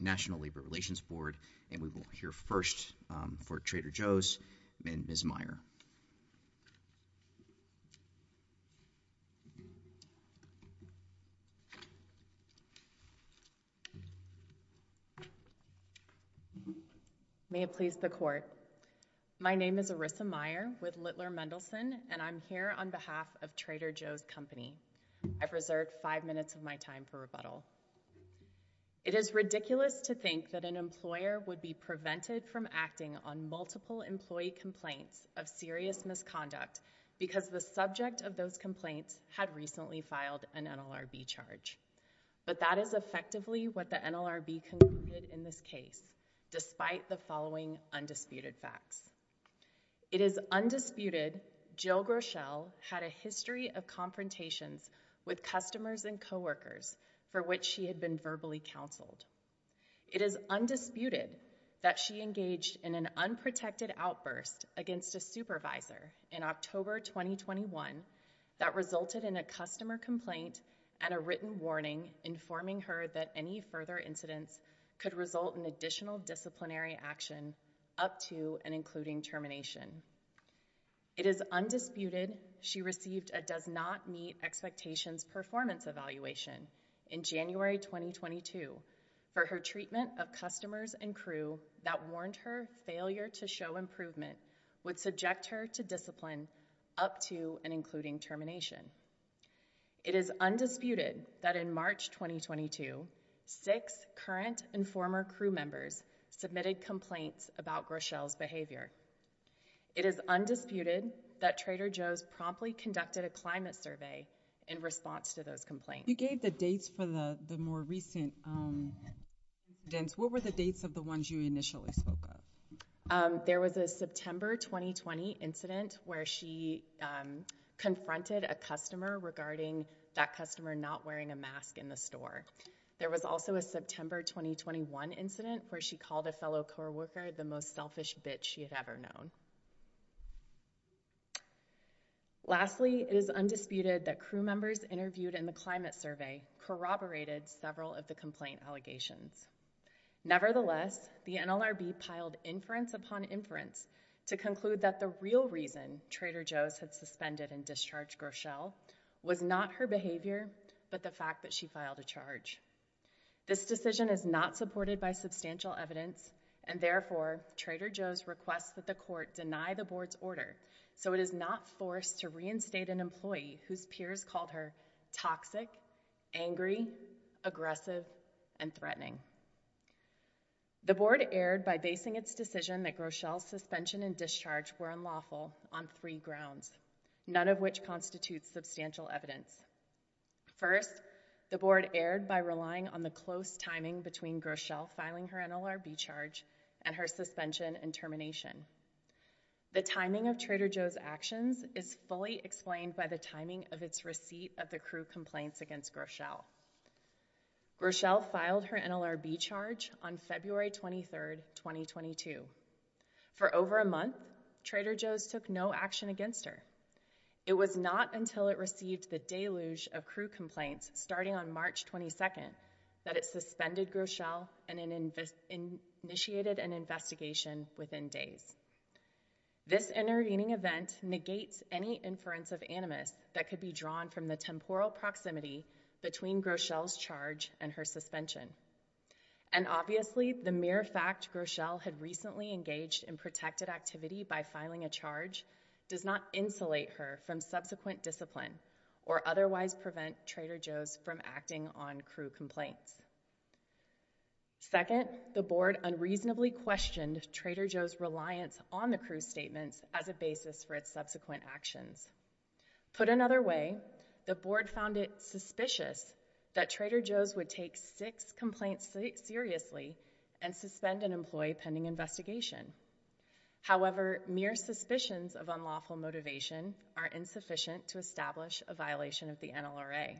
National Labor Relations Board, and we will hear first for Trader Joe's, Ms. Meyer. May it please the Court. My name is Arissa Meyer with Littler Mendelsohn, and I'm here on behalf of Trader Joe's Company. I've reserved five minutes of my time for rebuttal. It is ridiculous to think that an employer would be prevented from acting on multiple employee complaints of serious misconduct because the subject of those complaints had recently filed an NLRB charge. But that is effectively what the NLRB concluded in this case, despite the following undisputed facts. It is undisputed Jill Groeschel had a history of confrontations with customers and coworkers for which she had been verbally counseled. It is undisputed that she engaged in an unprotected outburst against a supervisor in October 2021 that resulted in a customer complaint and a written warning informing her that any further incidents could result in additional disciplinary action up to and including termination. It is undisputed she received a does not meet expectations performance evaluation in January 2022 for her treatment of customers and crew that warned her failure to show improvement would subject her to discipline up to and including termination. It is undisputed that in March 2022, six current and former crew members submitted complaints about Groeschel's behavior. It is undisputed that Trader Joe's promptly conducted a climate survey in response to those complaints. You gave the dates for the more recent events. What were the dates of the ones you initially spoke of? There was a September 2020 incident where she confronted a customer regarding that customer not wearing a mask in the store. There was also a September 2021 incident where she called a fellow coworker the most selfish bitch she had ever known. Lastly, it is undisputed that crew members interviewed in the climate survey corroborated several of the complaint allegations. Nevertheless, the NLRB piled inference upon inference to conclude that the real reason Trader Joe's had suspended and discharged Groeschel was not her behavior but the fact that she filed a charge. This decision is not supported by substantial evidence and therefore Trader Joe's requests that the court deny the board's order so it is not forced to reinstate an employee whose peers called her toxic, angry, aggressive, and threatening. The board erred by basing its decision that Groeschel's suspension and discharge were unlawful on three grounds, none of which constitutes substantial evidence. First, the board erred by relying on the close timing between Groeschel filing her NLRB charge and her suspension and termination. The timing of Trader Joe's actions is fully explained by the timing of its receipt of the crew complaints against Groeschel. Groeschel filed her NLRB charge on February 23, 2022. For over a month, Trader Joe's took no action against her. It was not until it received the deluge of crew complaints starting on March 22 that it suspended Groeschel and initiated an investigation within days. This intervening event negates any inference of animus that could be drawn from the temporal proximity between Groeschel's charge and her suspension. And obviously, the mere fact Groeschel had recently engaged in protected activity by filing a charge does not insulate her from subsequent discipline or otherwise prevent Trader Joe's from acting on crew complaints. Second, the board unreasonably questioned Trader Joe's reliance on the crew's statements as a basis for its subsequent actions. Put another way, the board found it suspicious that Trader Joe's would take six complaints seriously and suspend an employee pending investigation. However, mere suspicions of unlawful motivation are insufficient to establish a violation of the NLRA.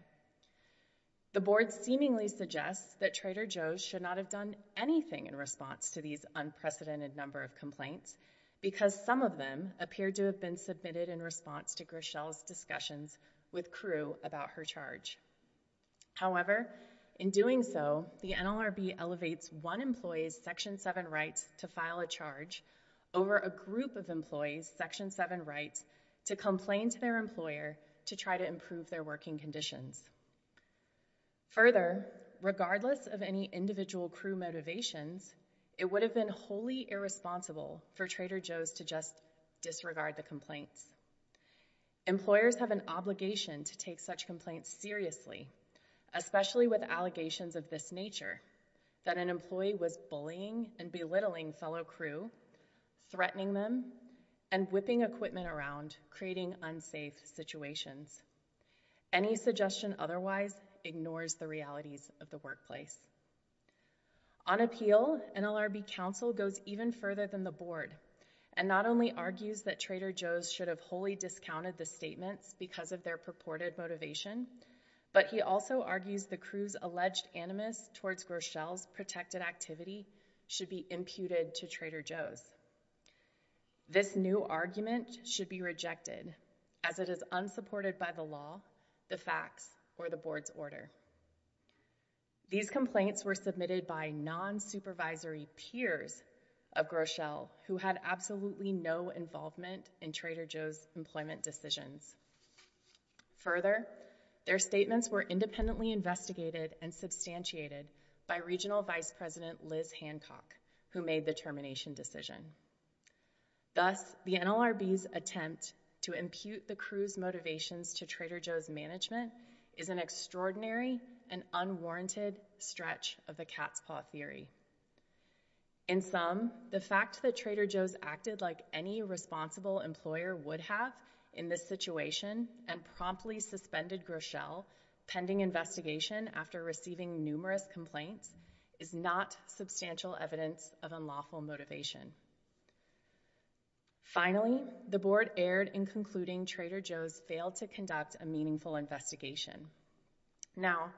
The board seemingly suggests that Trader Joe's should not have done anything in response to these unprecedented number of complaints because some of them appear to have been submitted in response to Groeschel's discussions with crew about her charge. However, in doing so, the NLRB elevates one employee's Section 7 rights to file a charge over a group of employees' Section 7 rights to complain to their employer to try to improve their working conditions. Further, regardless of any individual crew motivations, it would have been wholly irresponsible for Trader Joe's to just disregard the complaints. Employers have an obligation to take such complaints seriously, especially with allegations of this nature, that an employee was bullying and belittling fellow crew, threatening them, and whipping equipment around, creating unsafe situations. Any suggestion otherwise ignores the realities of the workplace. On appeal, NLRB counsel goes even further than the board and not only argues that Trader Joe's should have wholly discounted the statements because of their purported motivation, but he also argues the crew's alleged animus towards Groeschel's protected activity should be imputed to Trader Joe's. This new argument should be rejected as it is unsupported by the law, the facts, or the board's order. These complaints were submitted by non-supervisory peers of Groeschel who had absolutely no involvement in Trader Joe's employment decisions. Further, their statements were independently investigated and substantiated by regional vice president Liz Hancock, who made the termination decision. Thus, the NLRB's attempt to impute the crew's motivations to Trader Joe's management is an extraordinary and unwarranted stretch of the cat's paw theory. In sum, the fact that Trader Joe's acted like any responsible employer would have in this situation and promptly suspended Groeschel pending investigation after receiving numerous complaints is not substantial evidence of unlawful motivation. Finally, the board erred in concluding Trader Joe's failed to conduct a meaningful investigation. Now,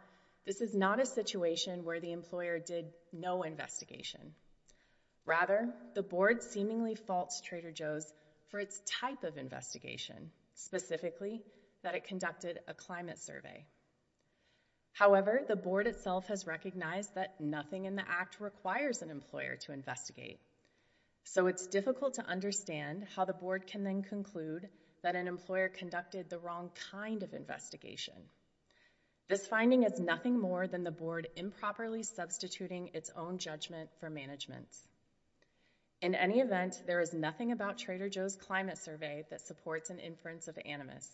this is not a situation where the employer did no investigation. Rather, the board seemingly faults Trader Joe's for its type of investigation, specifically that it conducted a climate survey. However, the board itself has recognized that nothing in the act requires an employer to investigate, so it's difficult to understand how the board can then conclude that an employer conducted the wrong kind of investigation. This finding is nothing more than the board improperly substituting its own judgment for management's. In any event, there is nothing about Trader Joe's climate survey that supports an inference of animus.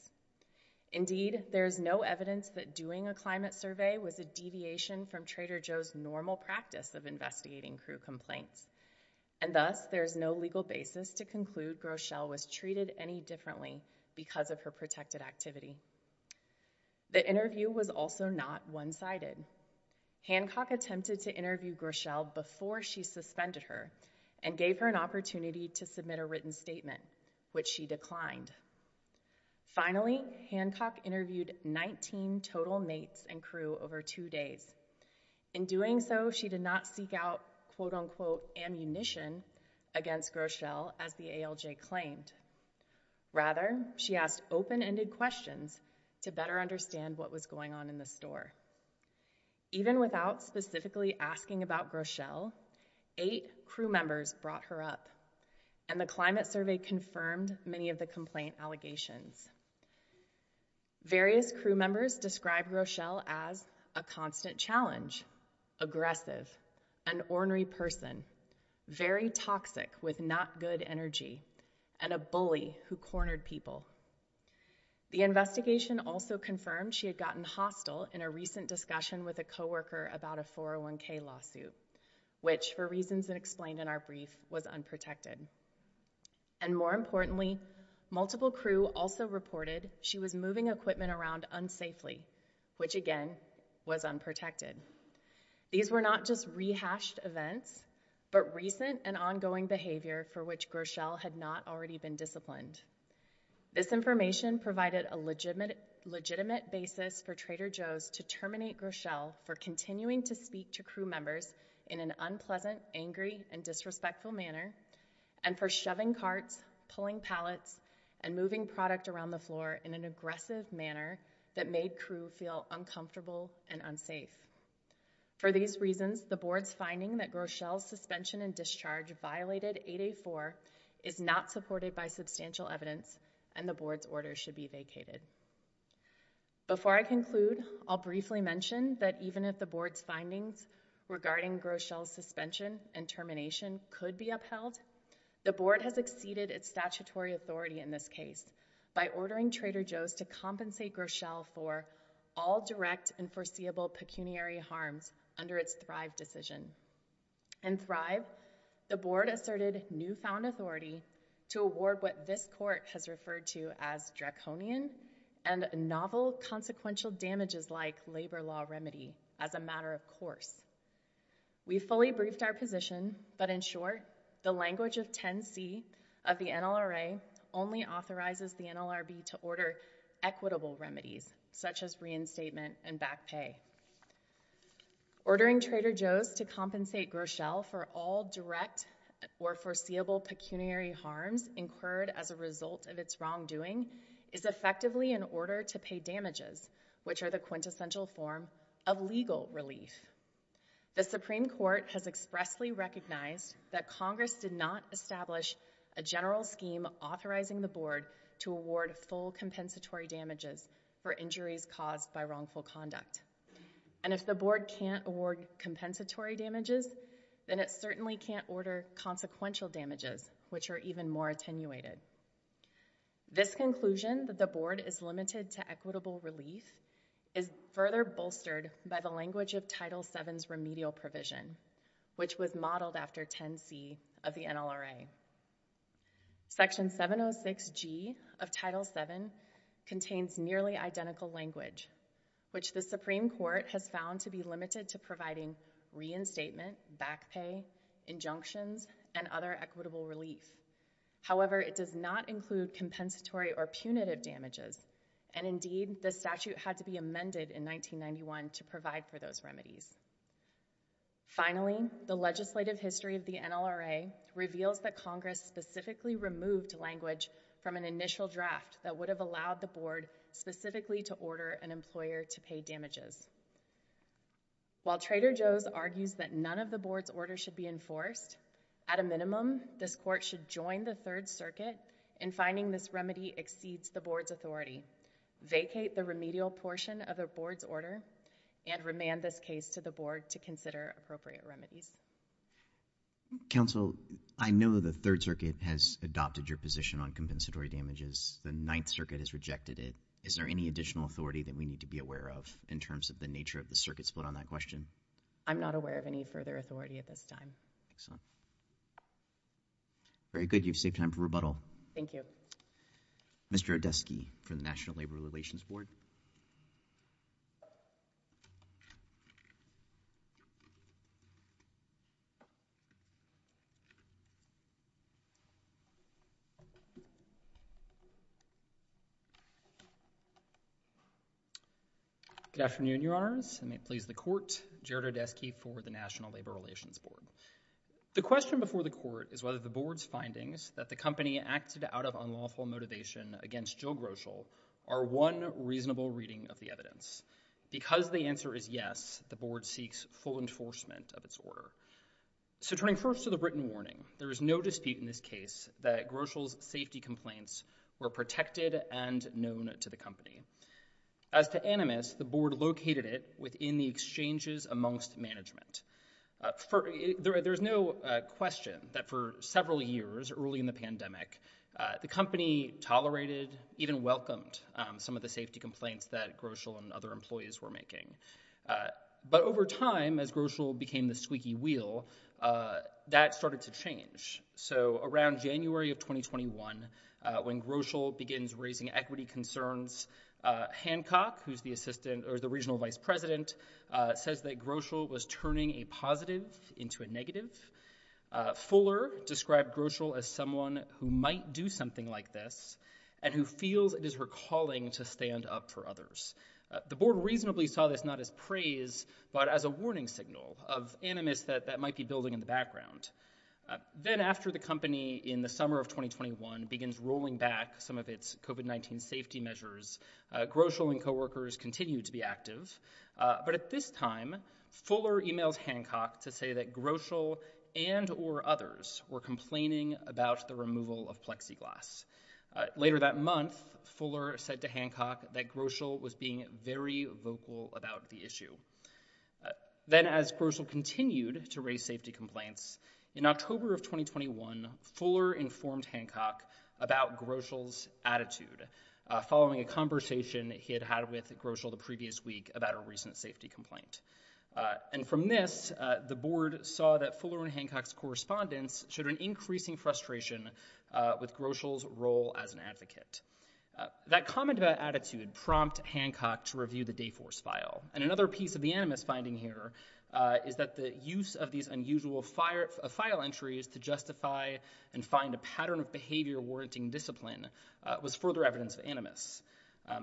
Indeed, there is no evidence that doing a climate survey was a deviation from Trader Joe's normal practice of investigating crew complaints, and thus there is no legal basis to conclude Groeschel was treated any differently because of her protected activity. The interview was also not one-sided. Hancock attempted to interview Groeschel before she suspended her and gave her an opportunity to submit a written statement, which she declined. Finally, Hancock interviewed 19 total mates and crew over two days. In doing so, she did not seek out quote-unquote ammunition against Groeschel as the ALJ claimed. Rather, she asked open-ended questions to better understand what was going on in the store. Even without specifically asking about Groeschel, eight crew members brought her up, and the climate survey confirmed many of the complaint allegations. Various crew members described Groeschel as a constant challenge, aggressive, an ornery person, very toxic with not-good energy, and a bully who cornered people. The investigation also confirmed she had gotten hostile in a recent discussion with a coworker about a 401k lawsuit, which, for reasons that explained in our brief, was unprotected. And more importantly, multiple crew also reported she was moving equipment around unsafely, which again, was unprotected. These were not just rehashed events, but recent and ongoing behavior for which Groeschel had not already been disciplined. This information provided a legitimate basis for Trader Joe's to terminate Groeschel for continuing to speak to crew members in an unpleasant, angry, and disrespectful manner, and for shoving carts, pulling pallets, and moving product around the floor in an aggressive manner that made crew feel uncomfortable and unsafe. For these reasons, the board's finding that Groeschel's suspension and discharge violated 8A4 is not supported by substantial evidence, and the board's order should be vacated. Before I conclude, I'll briefly mention that even if the board's findings regarding Groeschel's suspension and termination could be upheld, the board has exceeded its statutory authority in this case by ordering Trader Joe's to compensate Groeschel for all direct and foreseeable pecuniary harms under its Thrive decision. In Thrive, the board asserted newfound authority to award what this court has referred to as a draconian and novel consequential damages-like labor law remedy as a matter of course. We fully briefed our position, but in short, the language of 10C of the NLRA only authorizes the NLRB to order equitable remedies, such as reinstatement and back pay. Ordering Trader Joe's to compensate Groeschel for all direct or foreseeable pecuniary harms incurred as a result of its wrongdoing is effectively an order to pay damages, which are the quintessential form of legal relief. The Supreme Court has expressly recognized that Congress did not establish a general scheme authorizing the board to award full compensatory damages for injuries caused by wrongful conduct. And if the board can't award compensatory damages, then it certainly can't order consequential damages, which are even more attenuated. This conclusion that the board is limited to equitable relief is further bolstered by the language of Title VII's remedial provision, which was modeled after 10C of the NLRA. Section 706G of Title VII contains nearly identical language, which the Supreme Court has found to be limited to providing reinstatement, back pay, injunctions, and other equitable relief. However, it does not include compensatory or punitive damages, and indeed, the statute had to be amended in 1991 to provide for those remedies. Finally, the legislative history of the NLRA reveals that Congress specifically removed language from an initial draft that would have allowed the board specifically to order an employer to pay damages. While Trader Joe's argues that none of the board's order should be enforced, at a minimum, this court should join the Third Circuit in finding this remedy exceeds the board's authority, vacate the remedial portion of the board's order, and remand this case to the board to consider appropriate remedies. Counsel, I know the Third Circuit has adopted your position on compensatory damages. The Ninth Circuit has rejected it. Is there any additional authority that we need to be aware of in terms of the nature of the Circuit's vote on that question? I'm not aware of any further authority at this time. Excellent. Very good. You've saved time for rebuttal. Thank you. Mr. Odeski for the National Labor Relations Board. Good afternoon, Your Honors. And may it please the court, Jared Odeski for the National Labor Relations Board. The question before the court is whether the board's findings that the company acted out of unlawful motivation against Jill Groshel are one reasonable reading of the evidence. Because the answer is yes, the board seeks full enforcement of its order. So turning first to the written warning, there is no dispute in this case that Groshel's safety complaints were protected and known to the company. As to Animus, the board located it within the exchanges amongst management. There's no question that for several years early in the pandemic, the company tolerated, even welcomed some of the safety complaints that Groshel and other employees were making. But over time, as Groshel became the squeaky wheel, that started to change. So around January of 2021, when Groshel begins raising equity concerns, Hancock, who's the assistant or the regional vice president, says that Groshel was turning a positive into a negative. Fuller described Groshel as someone who might do something like this and who feels it is her calling to stand up for others. The board reasonably saw this not as praise, but as a warning signal of Animus that that might be building in the background. Then after the company in the summer of 2021 begins rolling back some of its COVID-19 safety measures, Groshel and coworkers continue to be active. But at this time, Fuller emails Hancock to say that Groshel and or others were complaining about the removal of Plexiglas. Later that month, Fuller said to Hancock that Groshel was being very vocal about the issue. Then as Groshel continued to raise safety complaints, in October of 2021, Fuller informed Hancock about Groshel's attitude following a conversation he had had with Groshel the previous week about a recent safety complaint. And from this, the board saw that Fuller and Hancock's correspondence showed an increasing frustration with Groshel's role as an advocate. That comment about attitude prompt Hancock to review the Dayforce file. And another piece of the Animus finding here is that the use of these unusual file entries to justify and find a pattern of behavior warranting discipline was further evidence of Animus.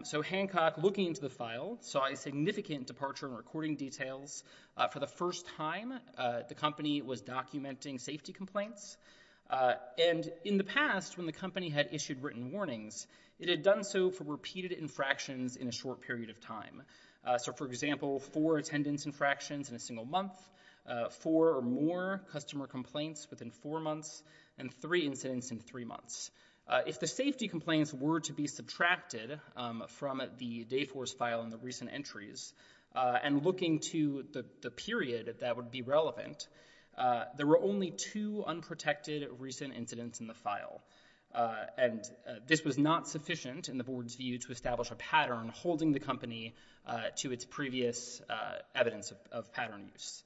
So Hancock, looking into the file, saw a significant departure in recording details. For the first time, the company was documenting safety complaints. And in the past, when the company had issued written warnings, it had done so for repeated infractions in a short period of time. So, for example, four attendance infractions in a single month, four or more customer complaints within four months and three incidents in three months. If the safety complaints were to be subtracted from the Dayforce file in the recent entries and looking to the period that would be relevant, there were only two unprotected recent incidents in the file. And this was not sufficient in the board's view to establish a pattern holding the company to its previous evidence of pattern use.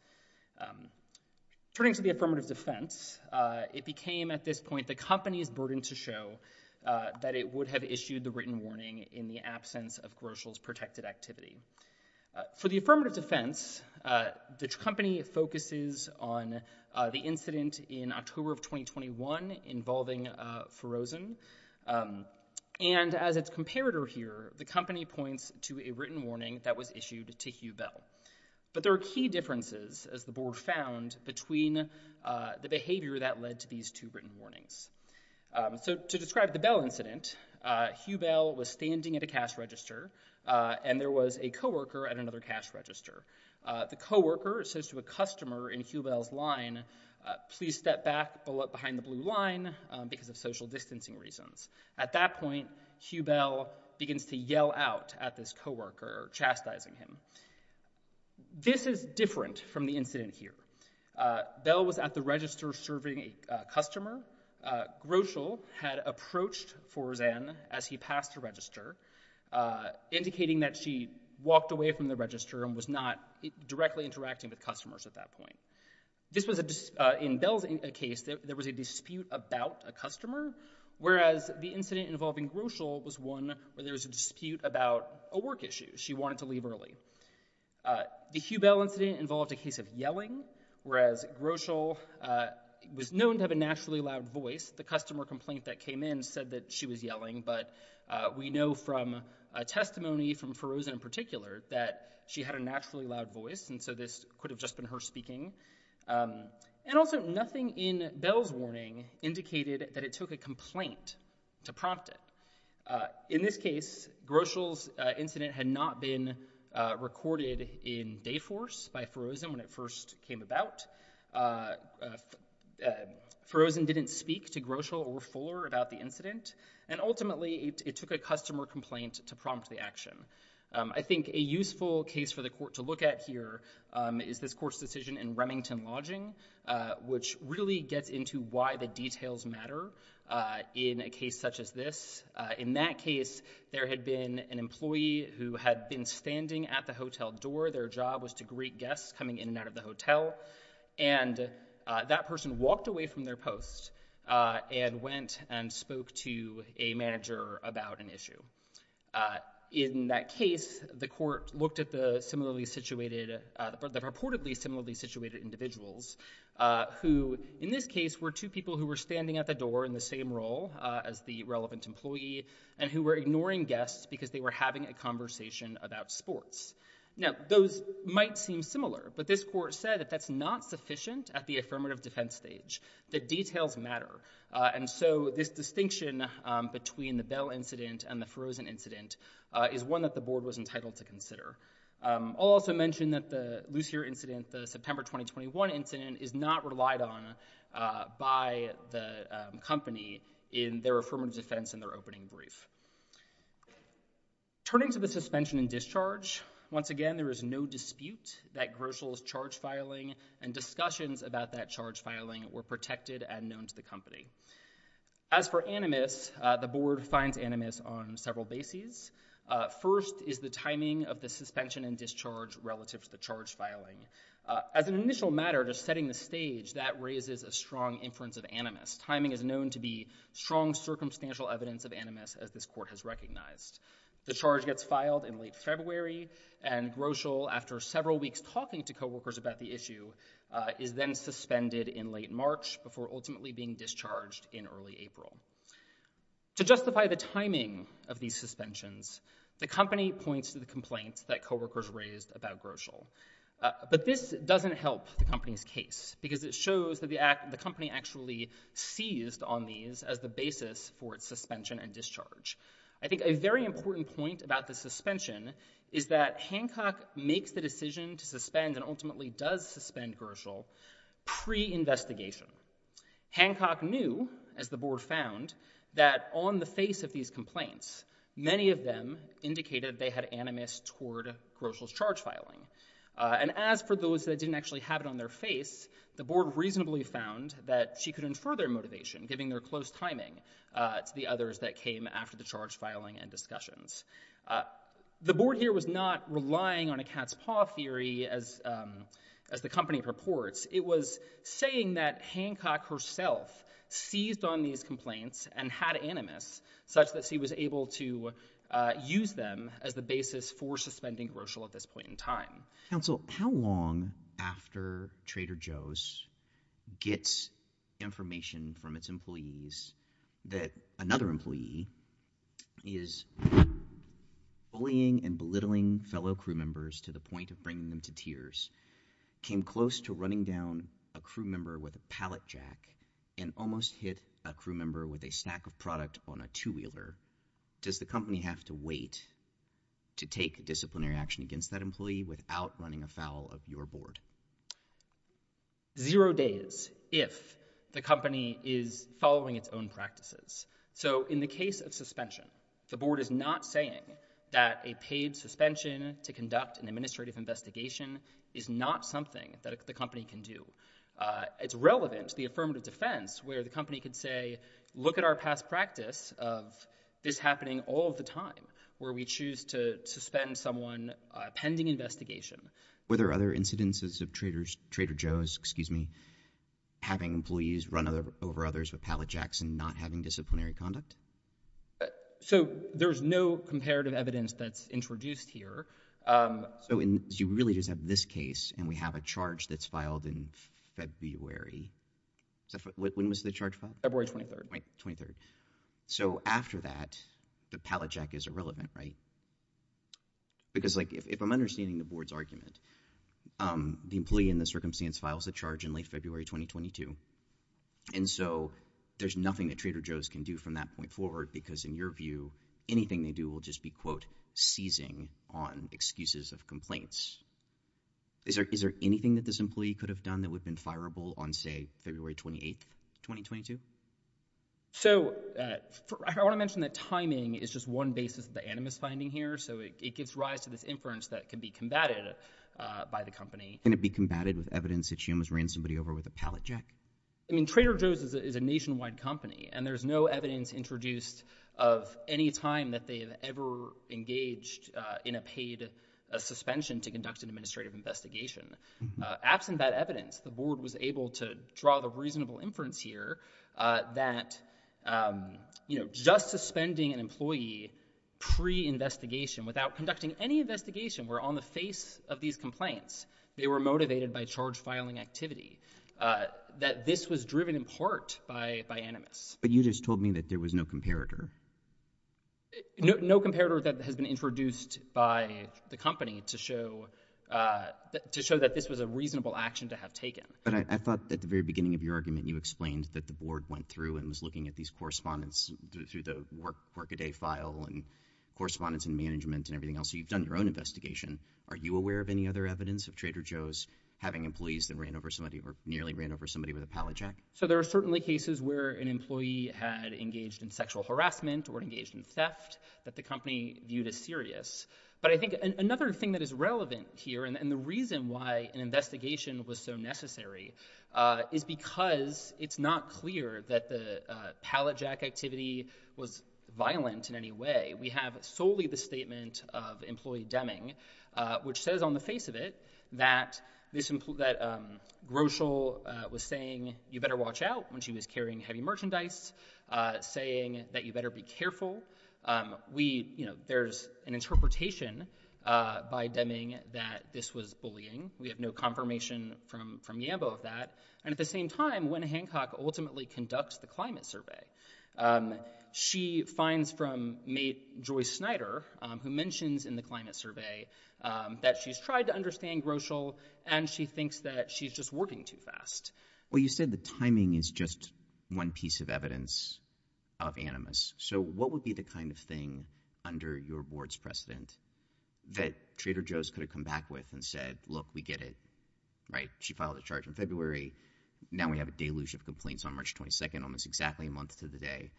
Turning to the affirmative defense, it became at this point the company's burden to show that it would have issued the written warning in the absence of Groshel's protected activity. For the affirmative defense, the company focuses on the incident in October of 2021 involving Ferozen. And as its comparator here, the company points to a written warning that was issued to Hubell. But there are key differences, as the board found, between the behavior that led to these two written warnings. So to describe the Bell incident, Hubell was standing at a cash register and there was a coworker at another cash register. The coworker says to a customer in Hubell's line, please step back behind the blue line because of social distancing reasons. At that point, Hubell begins to yell out at this coworker, chastising him. This is different from the incident here. Bell was at the register serving a customer. Groshel had approached Ferozen as he passed the register, indicating that she walked away from the register and was not directly interacting with customers at that point. This was in Bell's case, there was a dispute about a customer, whereas the incident involving Groshel was one where there was a dispute about a work issue. She wanted to leave early. The Hubell incident involved a case of yelling, whereas Groshel was known to have a naturally loud voice. The customer complaint that came in said that she was yelling. We know from a testimony from Ferozen in particular that she had a naturally loud voice, and so this could have just been her speaking. And also nothing in Bell's warning indicated that it took a complaint to prompt it. In this case, Groshel's incident had not been recorded in Dayforce by Ferozen when it first came about. Ferozen didn't speak to Groshel or Fuller about the incident, and ultimately it took a customer complaint to prompt the action. I think a useful case for the court to look at here is this court's decision in Remington Lodging, which really gets into why the details matter in a case such as this. In that case, there had been an employee who had been standing at the hotel door. Their job was to greet guests coming in and out of the hotel. And that person walked away from their post and went and spoke to a manager about an issue. In that case, the court looked at the reportedly similarly situated individuals who, in this case, were two people who were standing at the door in the same role as the relevant employee and who were ignoring guests because they were having a conversation about sports. Now, those might seem similar, but this court said that that's not sufficient at the affirmative defense stage. The details matter. And so this distinction between the Bell incident and the Ferozen incident is one that the board was entitled to consider. I'll also mention that the Lucier incident, the September 2021 incident, is not relied on by the company in their affirmative defense in their opening brief. Turning to the suspension and discharge, once again, there is no dispute that Groshel's charge filing and discussions about that charge filing were protected and known to the company. As for Animus, the board finds Animus on several bases. First is the timing of the suspension and discharge relative to the charge filing. As an initial matter, just setting the stage, that raises a strong inference of Animus. Timing is known to be strong circumstantial evidence of Animus, as this court has recognized. The charge gets filed in late February, and Groshel, after several weeks talking to co-workers about the issue, is then suspended in late March before ultimately being discharged in early April. To justify the timing of these suspensions, the company points to the complaints that co-workers raised about Groshel. But this doesn't help the company's case, because it shows that the company actually seized on these as the basis for its suspension and discharge. I think a very important point about the suspension is that Hancock makes the decision to suspend and ultimately does suspend Groshel pre-investigation. Hancock knew, as the board found, that on the face of these complaints, many of them indicated they had Animus toward Groshel's charge filing. And as for those that didn't actually have it on their face, the board reasonably found that she could infer their motivation, giving their close timing to the others that came after the charge filing and discussions. The board here was not relying on a cat's paw theory, as the company purports. It was saying that Hancock herself seized on these complaints and had Animus, such that she was able to use them as the basis for suspending Groshel at this point in time. Counsel, how long after Trader Joe's gets information from its employees that another employee is bullying and belittling fellow crew members to the point of bringing them to tears, came close to running down a crew member with a pallet jack, and almost hit a crew member with a stack of product on a two-wheeler, does the company have to wait to take disciplinary action against that employee without running afoul of your board? Zero days, if the company is following its own practices. So in the case of suspension, the board is not saying that a paid suspension to conduct an administrative investigation is not something that the company can do. It's relevant to the affirmative defense, where the company could say, look at our past practice of this happening all of the time, where we choose to suspend someone pending investigation. Were there other incidences of Trader Joe's having employees run over others with pallet jacks and not having disciplinary conduct? So there's no comparative evidence that's introduced here. So you really just have this case, and we have a charge that's filed in February. When was the charge filed? February 23rd. Right, 23rd. So after that, the pallet jack is irrelevant, right? Because if I'm understanding the board's argument, the employee in the circumstance files a charge in late February 2022. And so there's nothing that Trader Joe's can do from that point forward, because in your view, anything they do will just be, quote, seizing on excuses of complaints. Is there anything that this employee could have done that would have been fireable on, say, February 28th, 2022? So I want to mention that timing is just one basis of the animus finding here. So it gives rise to this inference that could be combated by the company. Can it be combated with evidence that she almost ran somebody over with a pallet jack? I mean, Trader Joe's is a nationwide company, and there's no evidence introduced of any time that they have ever engaged in a paid suspension to conduct an administrative investigation. Absent that evidence, the board was able to draw the reasonable inference here that just suspending an employee pre-investigation, without conducting any investigation, were on the face of these complaints. They were motivated by charge filing activity. That this was driven in part by animus. But you just told me that there was no comparator. No comparator that has been introduced by the company to show that this was a reasonable action to have taken. But I thought at the very beginning of your argument, you explained that the board went through and was looking at these correspondence through the work a day file and correspondence and management and everything else. You've done your own investigation. Are you aware of any other evidence of Trader Joe's having employees that ran over somebody or nearly ran over somebody with a pallet jack? So there are certainly cases where an employee had engaged in sexual harassment or engaged in theft that the company viewed as serious. But I think another thing that is relevant here, and the reason why an investigation was so necessary, is because it's not clear that the pallet jack activity was violent in any way. We have solely the statement of employee Deming, which says on the face of it that Groeschel was saying you better watch out when she was carrying heavy merchandise, saying that you better be careful. There's an interpretation by Deming that this was bullying. We have no confirmation from Yambo of that. And at the same time, when Hancock ultimately conducts the climate survey, she finds from mate Joyce Snyder, who mentions in the climate survey that she's tried to understand Groeschel and she thinks that she's just working too fast. Well, you said the timing is just one piece of evidence of animus. So what would be the kind of thing under your board's precedent that Trader Joe's could have come back with and said, look, we get it, right? She filed a charge in February. Now we have a deluge of complaints on March 22nd, almost exactly a month to the day.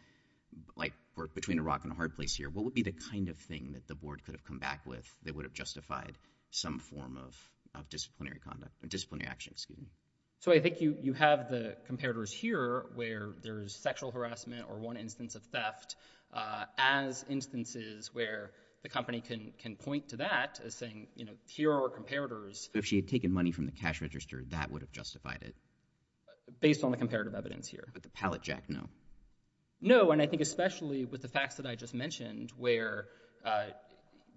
Like, we're between a rock and a hard place here. What would be the kind of thing that the board could have come back with that would have disciplinary action? So I think you have the comparators here where there's sexual harassment or one instance of theft as instances where the company can point to that as saying, you know, here are our comparators. If she had taken money from the cash register, that would have justified it. Based on the comparative evidence here. But the pallet jack, no. No. And I think especially with the facts that I just mentioned where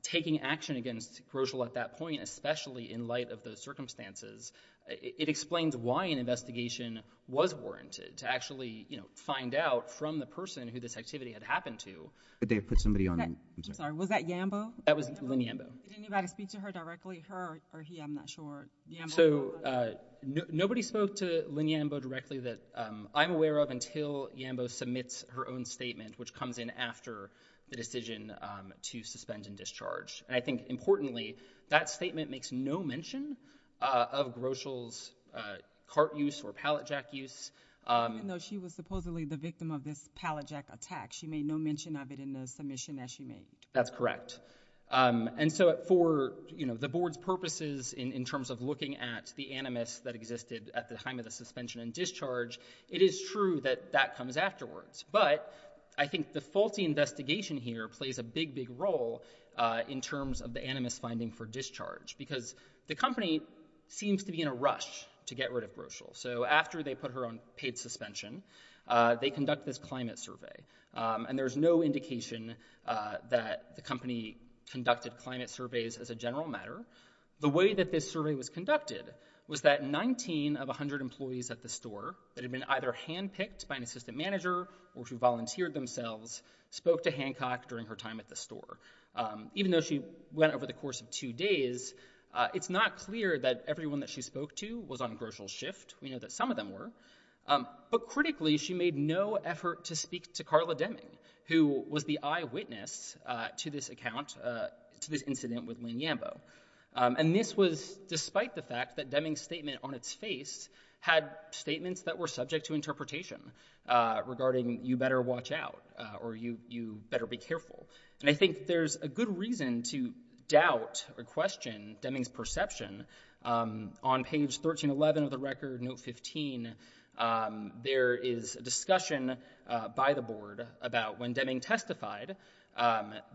taking action against Groschel at that point, especially in light of those circumstances, it explains why an investigation was warranted to actually, you know, find out from the person who this activity had happened to. Did they put somebody on? I'm sorry. Was that Yambo? That was Lynn Yambo. Did anybody speak to her directly? Her or he? I'm not sure. So nobody spoke to Lynn Yambo directly that I'm aware of until Yambo submits her own statement, which comes in after the decision to suspend and discharge. And I think importantly, that statement makes no mention of Groschel's cart use or pallet jack use. Even though she was supposedly the victim of this pallet jack attack. She made no mention of it in the submission that she made. That's correct. And so for, you know, the board's purposes in terms of looking at the animus that existed at the time of the suspension and discharge, it is true that that comes afterwards. But I think the faulty investigation here plays a big, big role in terms of the animus finding for discharge. Because the company seems to be in a rush to get rid of Groschel. So after they put her on paid suspension, they conduct this climate survey. And there's no indication that the company conducted climate surveys as a general matter. The way that this survey was conducted was that 19 of 100 employees at the store that had been either handpicked by an assistant manager or who volunteered themselves spoke to Hancock during her time at the store. Even though she went over the course of two days, it's not clear that everyone that she spoke to was on Groschel's shift. We know that some of them were. But critically, she made no effort to speak to Carla Deming, who was the eyewitness to this account, to this incident with Lynn Yambo. And this was despite the fact that Deming's statement on its face had statements that were subject to interpretation regarding you better watch out or you better be careful. And I think there's a good reason to doubt or question Deming's perception. On page 1311 of the record, note 15, there is a discussion by the board about when Deming testified,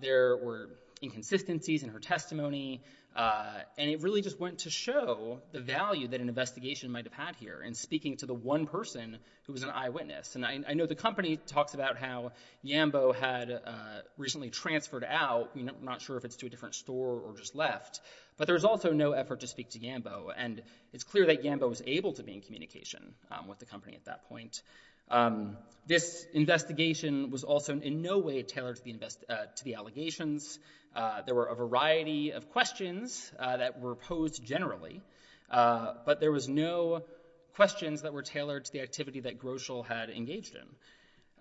there were inconsistencies in her testimony. And it really just went to show the value that an investigation might have had here in speaking to the one person who was an eyewitness. And I know the company talks about how Yambo had recently transferred out, not sure if it's to a different store or just left. But there was also no effort to speak to Yambo. And it's clear that Yambo was able to be in communication with the company at that point. This investigation was also in no way tailored to the allegations. There were a variety of questions that were posed generally. But there was no questions that were tailored to the activity that Groschel had engaged in.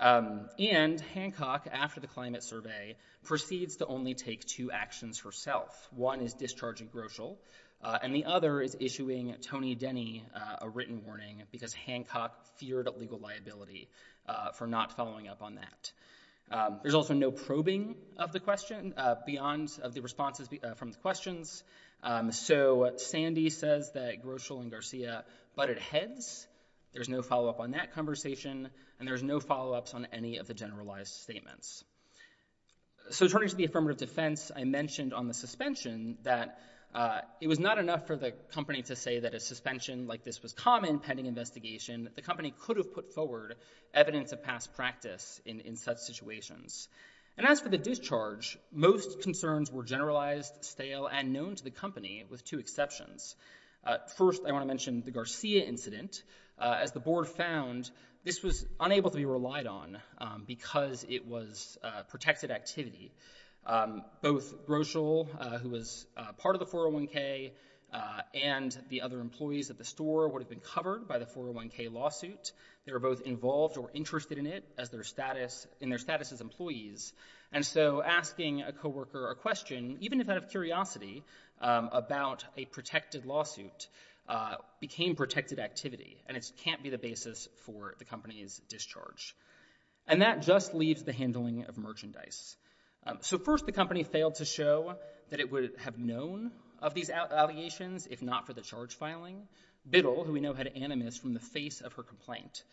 And Hancock, after the climate survey, proceeds to only take two actions herself. One is discharging Groschel. And the other is issuing Tony Denny a written warning because Hancock feared legal liability for not following up on that. There's also no probing of the question beyond the responses from the questions. So Sandy says that Groschel and Garcia butted heads. There's no follow-up on that conversation. And there's no follow-ups on any of the generalized statements. So turning to the affirmative defense, I mentioned on the suspension that it was not enough for the company to say that a suspension like this was common pending investigation. The company could have put forward evidence of past practice in such situations. And as for the discharge, most concerns were generalized, stale, and known to the company with two exceptions. First, I want to mention the Garcia incident. As the board found, this was unable to be relied on because it was protected activity. Both Groschel, who was part of the 401k, and the other employees at the store would have been covered by the 401k lawsuit. They were both involved or interested in it in their status as employees. And so asking a coworker a question, even if out of curiosity, about a protected lawsuit became protected activity. And it can't be the basis for the company's discharge. And that just leaves the handling of merchandise. So first, the company failed to show that it would have known of these allegations if not for the charge filing. Biddle, who we know had animus from the face of her complaint,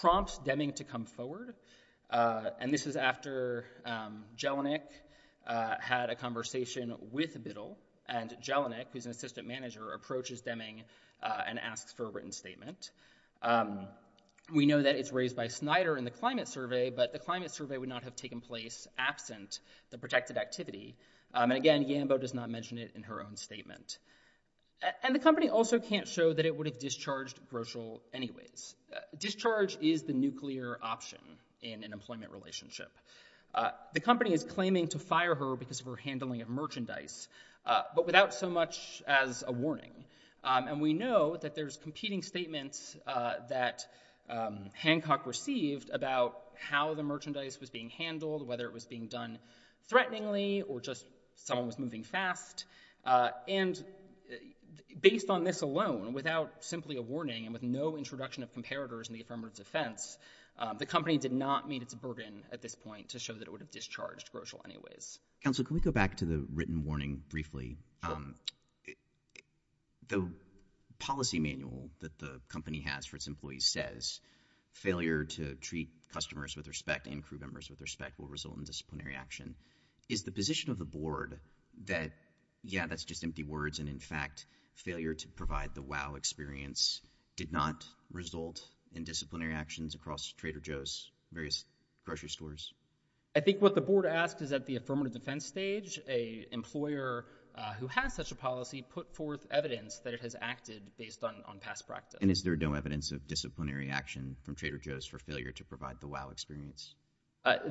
prompts Deming to come forward. And this is after Jelinek had a conversation with Biddle. And Jelinek, who's an assistant manager, approaches Deming and asks for a written statement. We know that it's raised by Snyder in the climate survey, but the climate survey would not have taken place absent the protected activity. And again, Gambo does not mention it in her own statement. And the company also can't show that it would have discharged Groschel anyways. Discharge is the nuclear option in an employment relationship. The company is claiming to fire her because of her handling of merchandise, but without so much as a warning. And we know that there's competing statements that Hancock received about how the merchandise was being handled, whether it was being done threateningly or just someone was moving fast. And based on this alone, without simply a warning, and with no introduction of comparators in the affirmative defense, the company did not meet its burden at this point to show that it would have discharged Groschel anyways. Counsel, can we go back to the written warning briefly? The policy manual that the company has for its employees says, failure to treat customers with respect and crew members with respect will result in disciplinary action. Is the position of the board that, yeah, that's just empty words, and in fact, failure to provide the wow experience did not result in disciplinary actions across Trader Joe's various grocery stores? I think what the board asked is at the affirmative defense stage, a employer who has such a policy put forth evidence that it has acted based on past practice. And is there no evidence of disciplinary action from Trader Joe's for failure to provide the wow experience?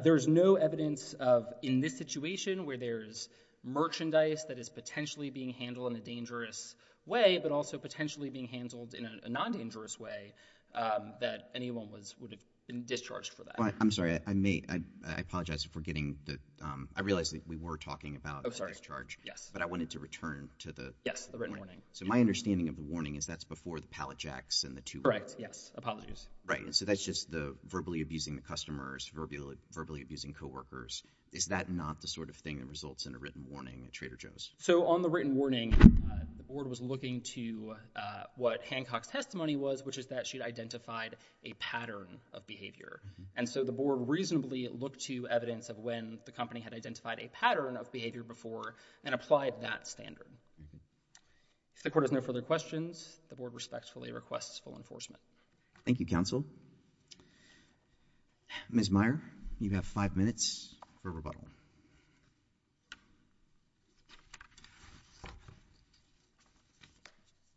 There's no evidence of, in this situation, where there's merchandise that is potentially being handled in a dangerous way, but also potentially being handled in a non-dangerous way, that anyone would have been discharged for that. I'm sorry, I may, I apologize for getting the, I realize that we were talking about discharge. Oh, sorry, yes. But I wanted to return to the... Yes, the written warning. So my understanding of the warning is that's before the pallet jacks and the two... Correct, yes, apologies. Right, and so that's just the verbally abusing the customers, verbally abusing co-workers. Is that not the sort of thing that results in a written warning at Trader Joe's? So on the written warning, the board was looking to what Hancock's testimony was, which is that she'd identified a pattern of behavior. And so the board reasonably looked to evidence of when the company had identified a pattern of behavior before and applied that standard. If the court has no further questions, the board respectfully requests full enforcement. Thank you, counsel. Ms. Meyer, you have five minutes for rebuttal.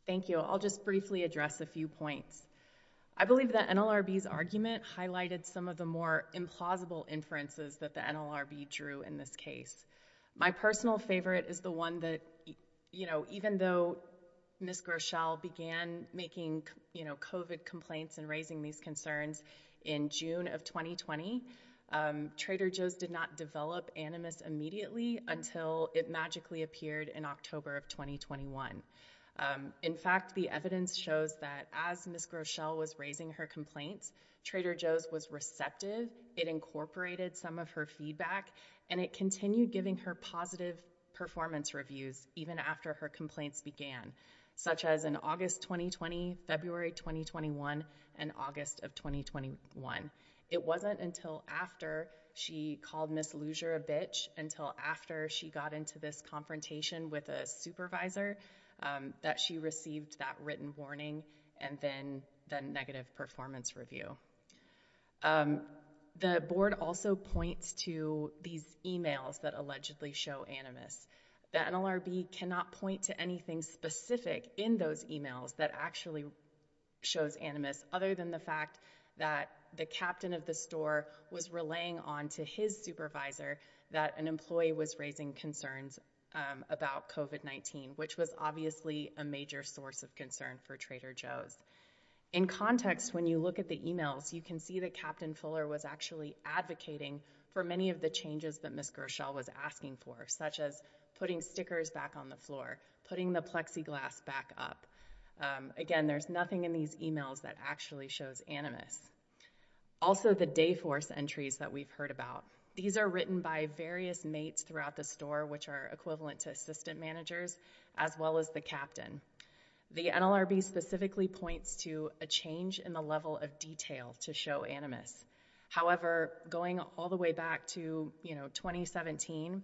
Thank you. I'll just briefly address a few points. I believe that NLRB's argument highlighted some of the more implausible inferences that the NLRB drew in this case. My personal favorite is the one that, you know, even though Ms. Groeschel began making, you know, COVID complaints and raising these concerns in June of 2020, Trader Joe's did not develop Animus immediately until it magically appeared in October of 2021. In fact, the evidence shows that as Ms. Groeschel was raising her complaints, Trader Joe's was receptive. It incorporated some of her feedback, and it continued giving her positive performance reviews even after her complaints began, such as in August 2020, February 2021, and August of 2021. It wasn't until after she called Ms. Luger a bitch, until after she got into this confrontation with a supervisor, that she received that written warning and then the negative performance review. The board also points to these emails that allegedly show Animus. The NLRB cannot point to anything specific in those emails that actually shows Animus, other than the fact that the captain of the store was relaying on to his supervisor that an employee was raising concerns about COVID-19, which was obviously a major source of concern for Trader Joe's. In context, when you look at the emails, you can see that Captain Fuller was actually advocating for many of the changes that Ms. Groeschel was asking for, such as putting stickers back on the floor, putting the plexiglass back up. Again, there's nothing in these emails that actually shows Animus. Also, the day force entries that we've heard about. These are written by various mates throughout the store, which are equivalent to assistant managers, as well as the captain. The NLRB specifically points to a change in the level of detail to show Animus. However, going all the way back to 2017,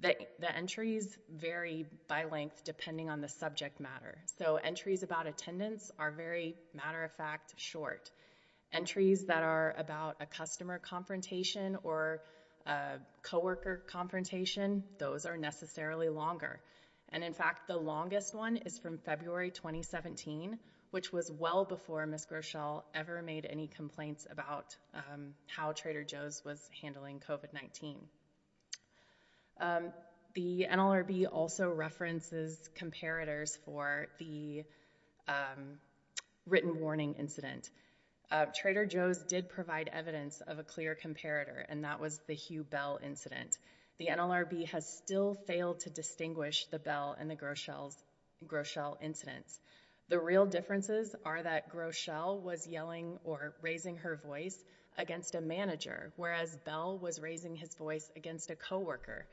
the entries vary by length depending on the subject matter. So entries about attendance are very matter-of-fact short. Entries that are about a customer confrontation or a coworker confrontation, those are necessarily longer. And in fact, the longest one is from February 2017, which was well before Ms. Groeschel ever made any complaints about how Trader Joe's was handling COVID-19. The NLRB also references comparators for the written warning incident. Trader Joe's did provide evidence of a clear comparator, and that was the Hugh Bell incident. The NLRB has still failed to distinguish the Bell and the Groeschel incidents. The real differences are that Groeschel was yelling or raising her voice against a manager, whereas Bell was raising his voice against a coworker.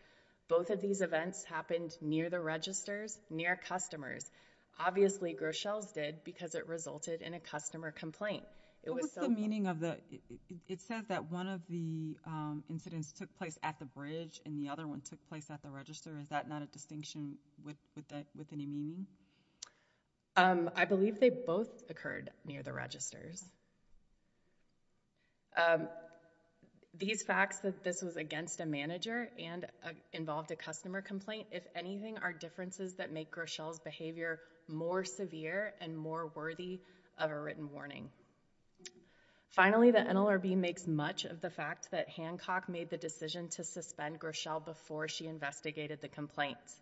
Both of these events happened near the registers, near customers. Obviously, Groeschel's did because it resulted in a customer complaint. It was so- What's the meaning of the- took place at the bridge, and the other one took place at the register. Is that not a distinction with any meaning? I believe they both occurred near the registers. These facts that this was against a manager and involved a customer complaint, if anything, are differences that make Groeschel's behavior more severe and more worthy of a written warning. Finally, the NLRB makes much of the fact that Hancock made the decision to suspend Groeschel before she investigated the complaints.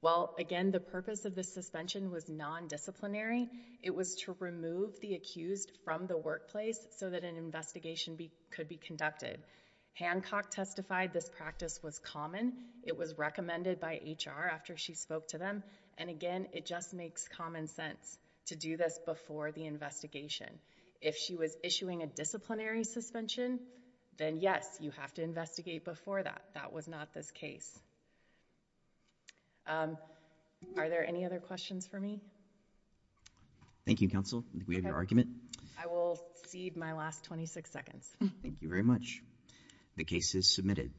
Well, again, the purpose of the suspension was non-disciplinary. It was to remove the accused from the workplace so that an investigation could be conducted. Hancock testified this practice was common. It was recommended by HR after she spoke to them, and again, it just makes common sense to do this before the investigation. If she was issuing a disciplinary suspension, then yes, you have to investigate before that. That was not this case. Are there any other questions for me? Thank you, counsel. We have your argument. I will cede my last 26 seconds. Thank you very much. The case is submitted.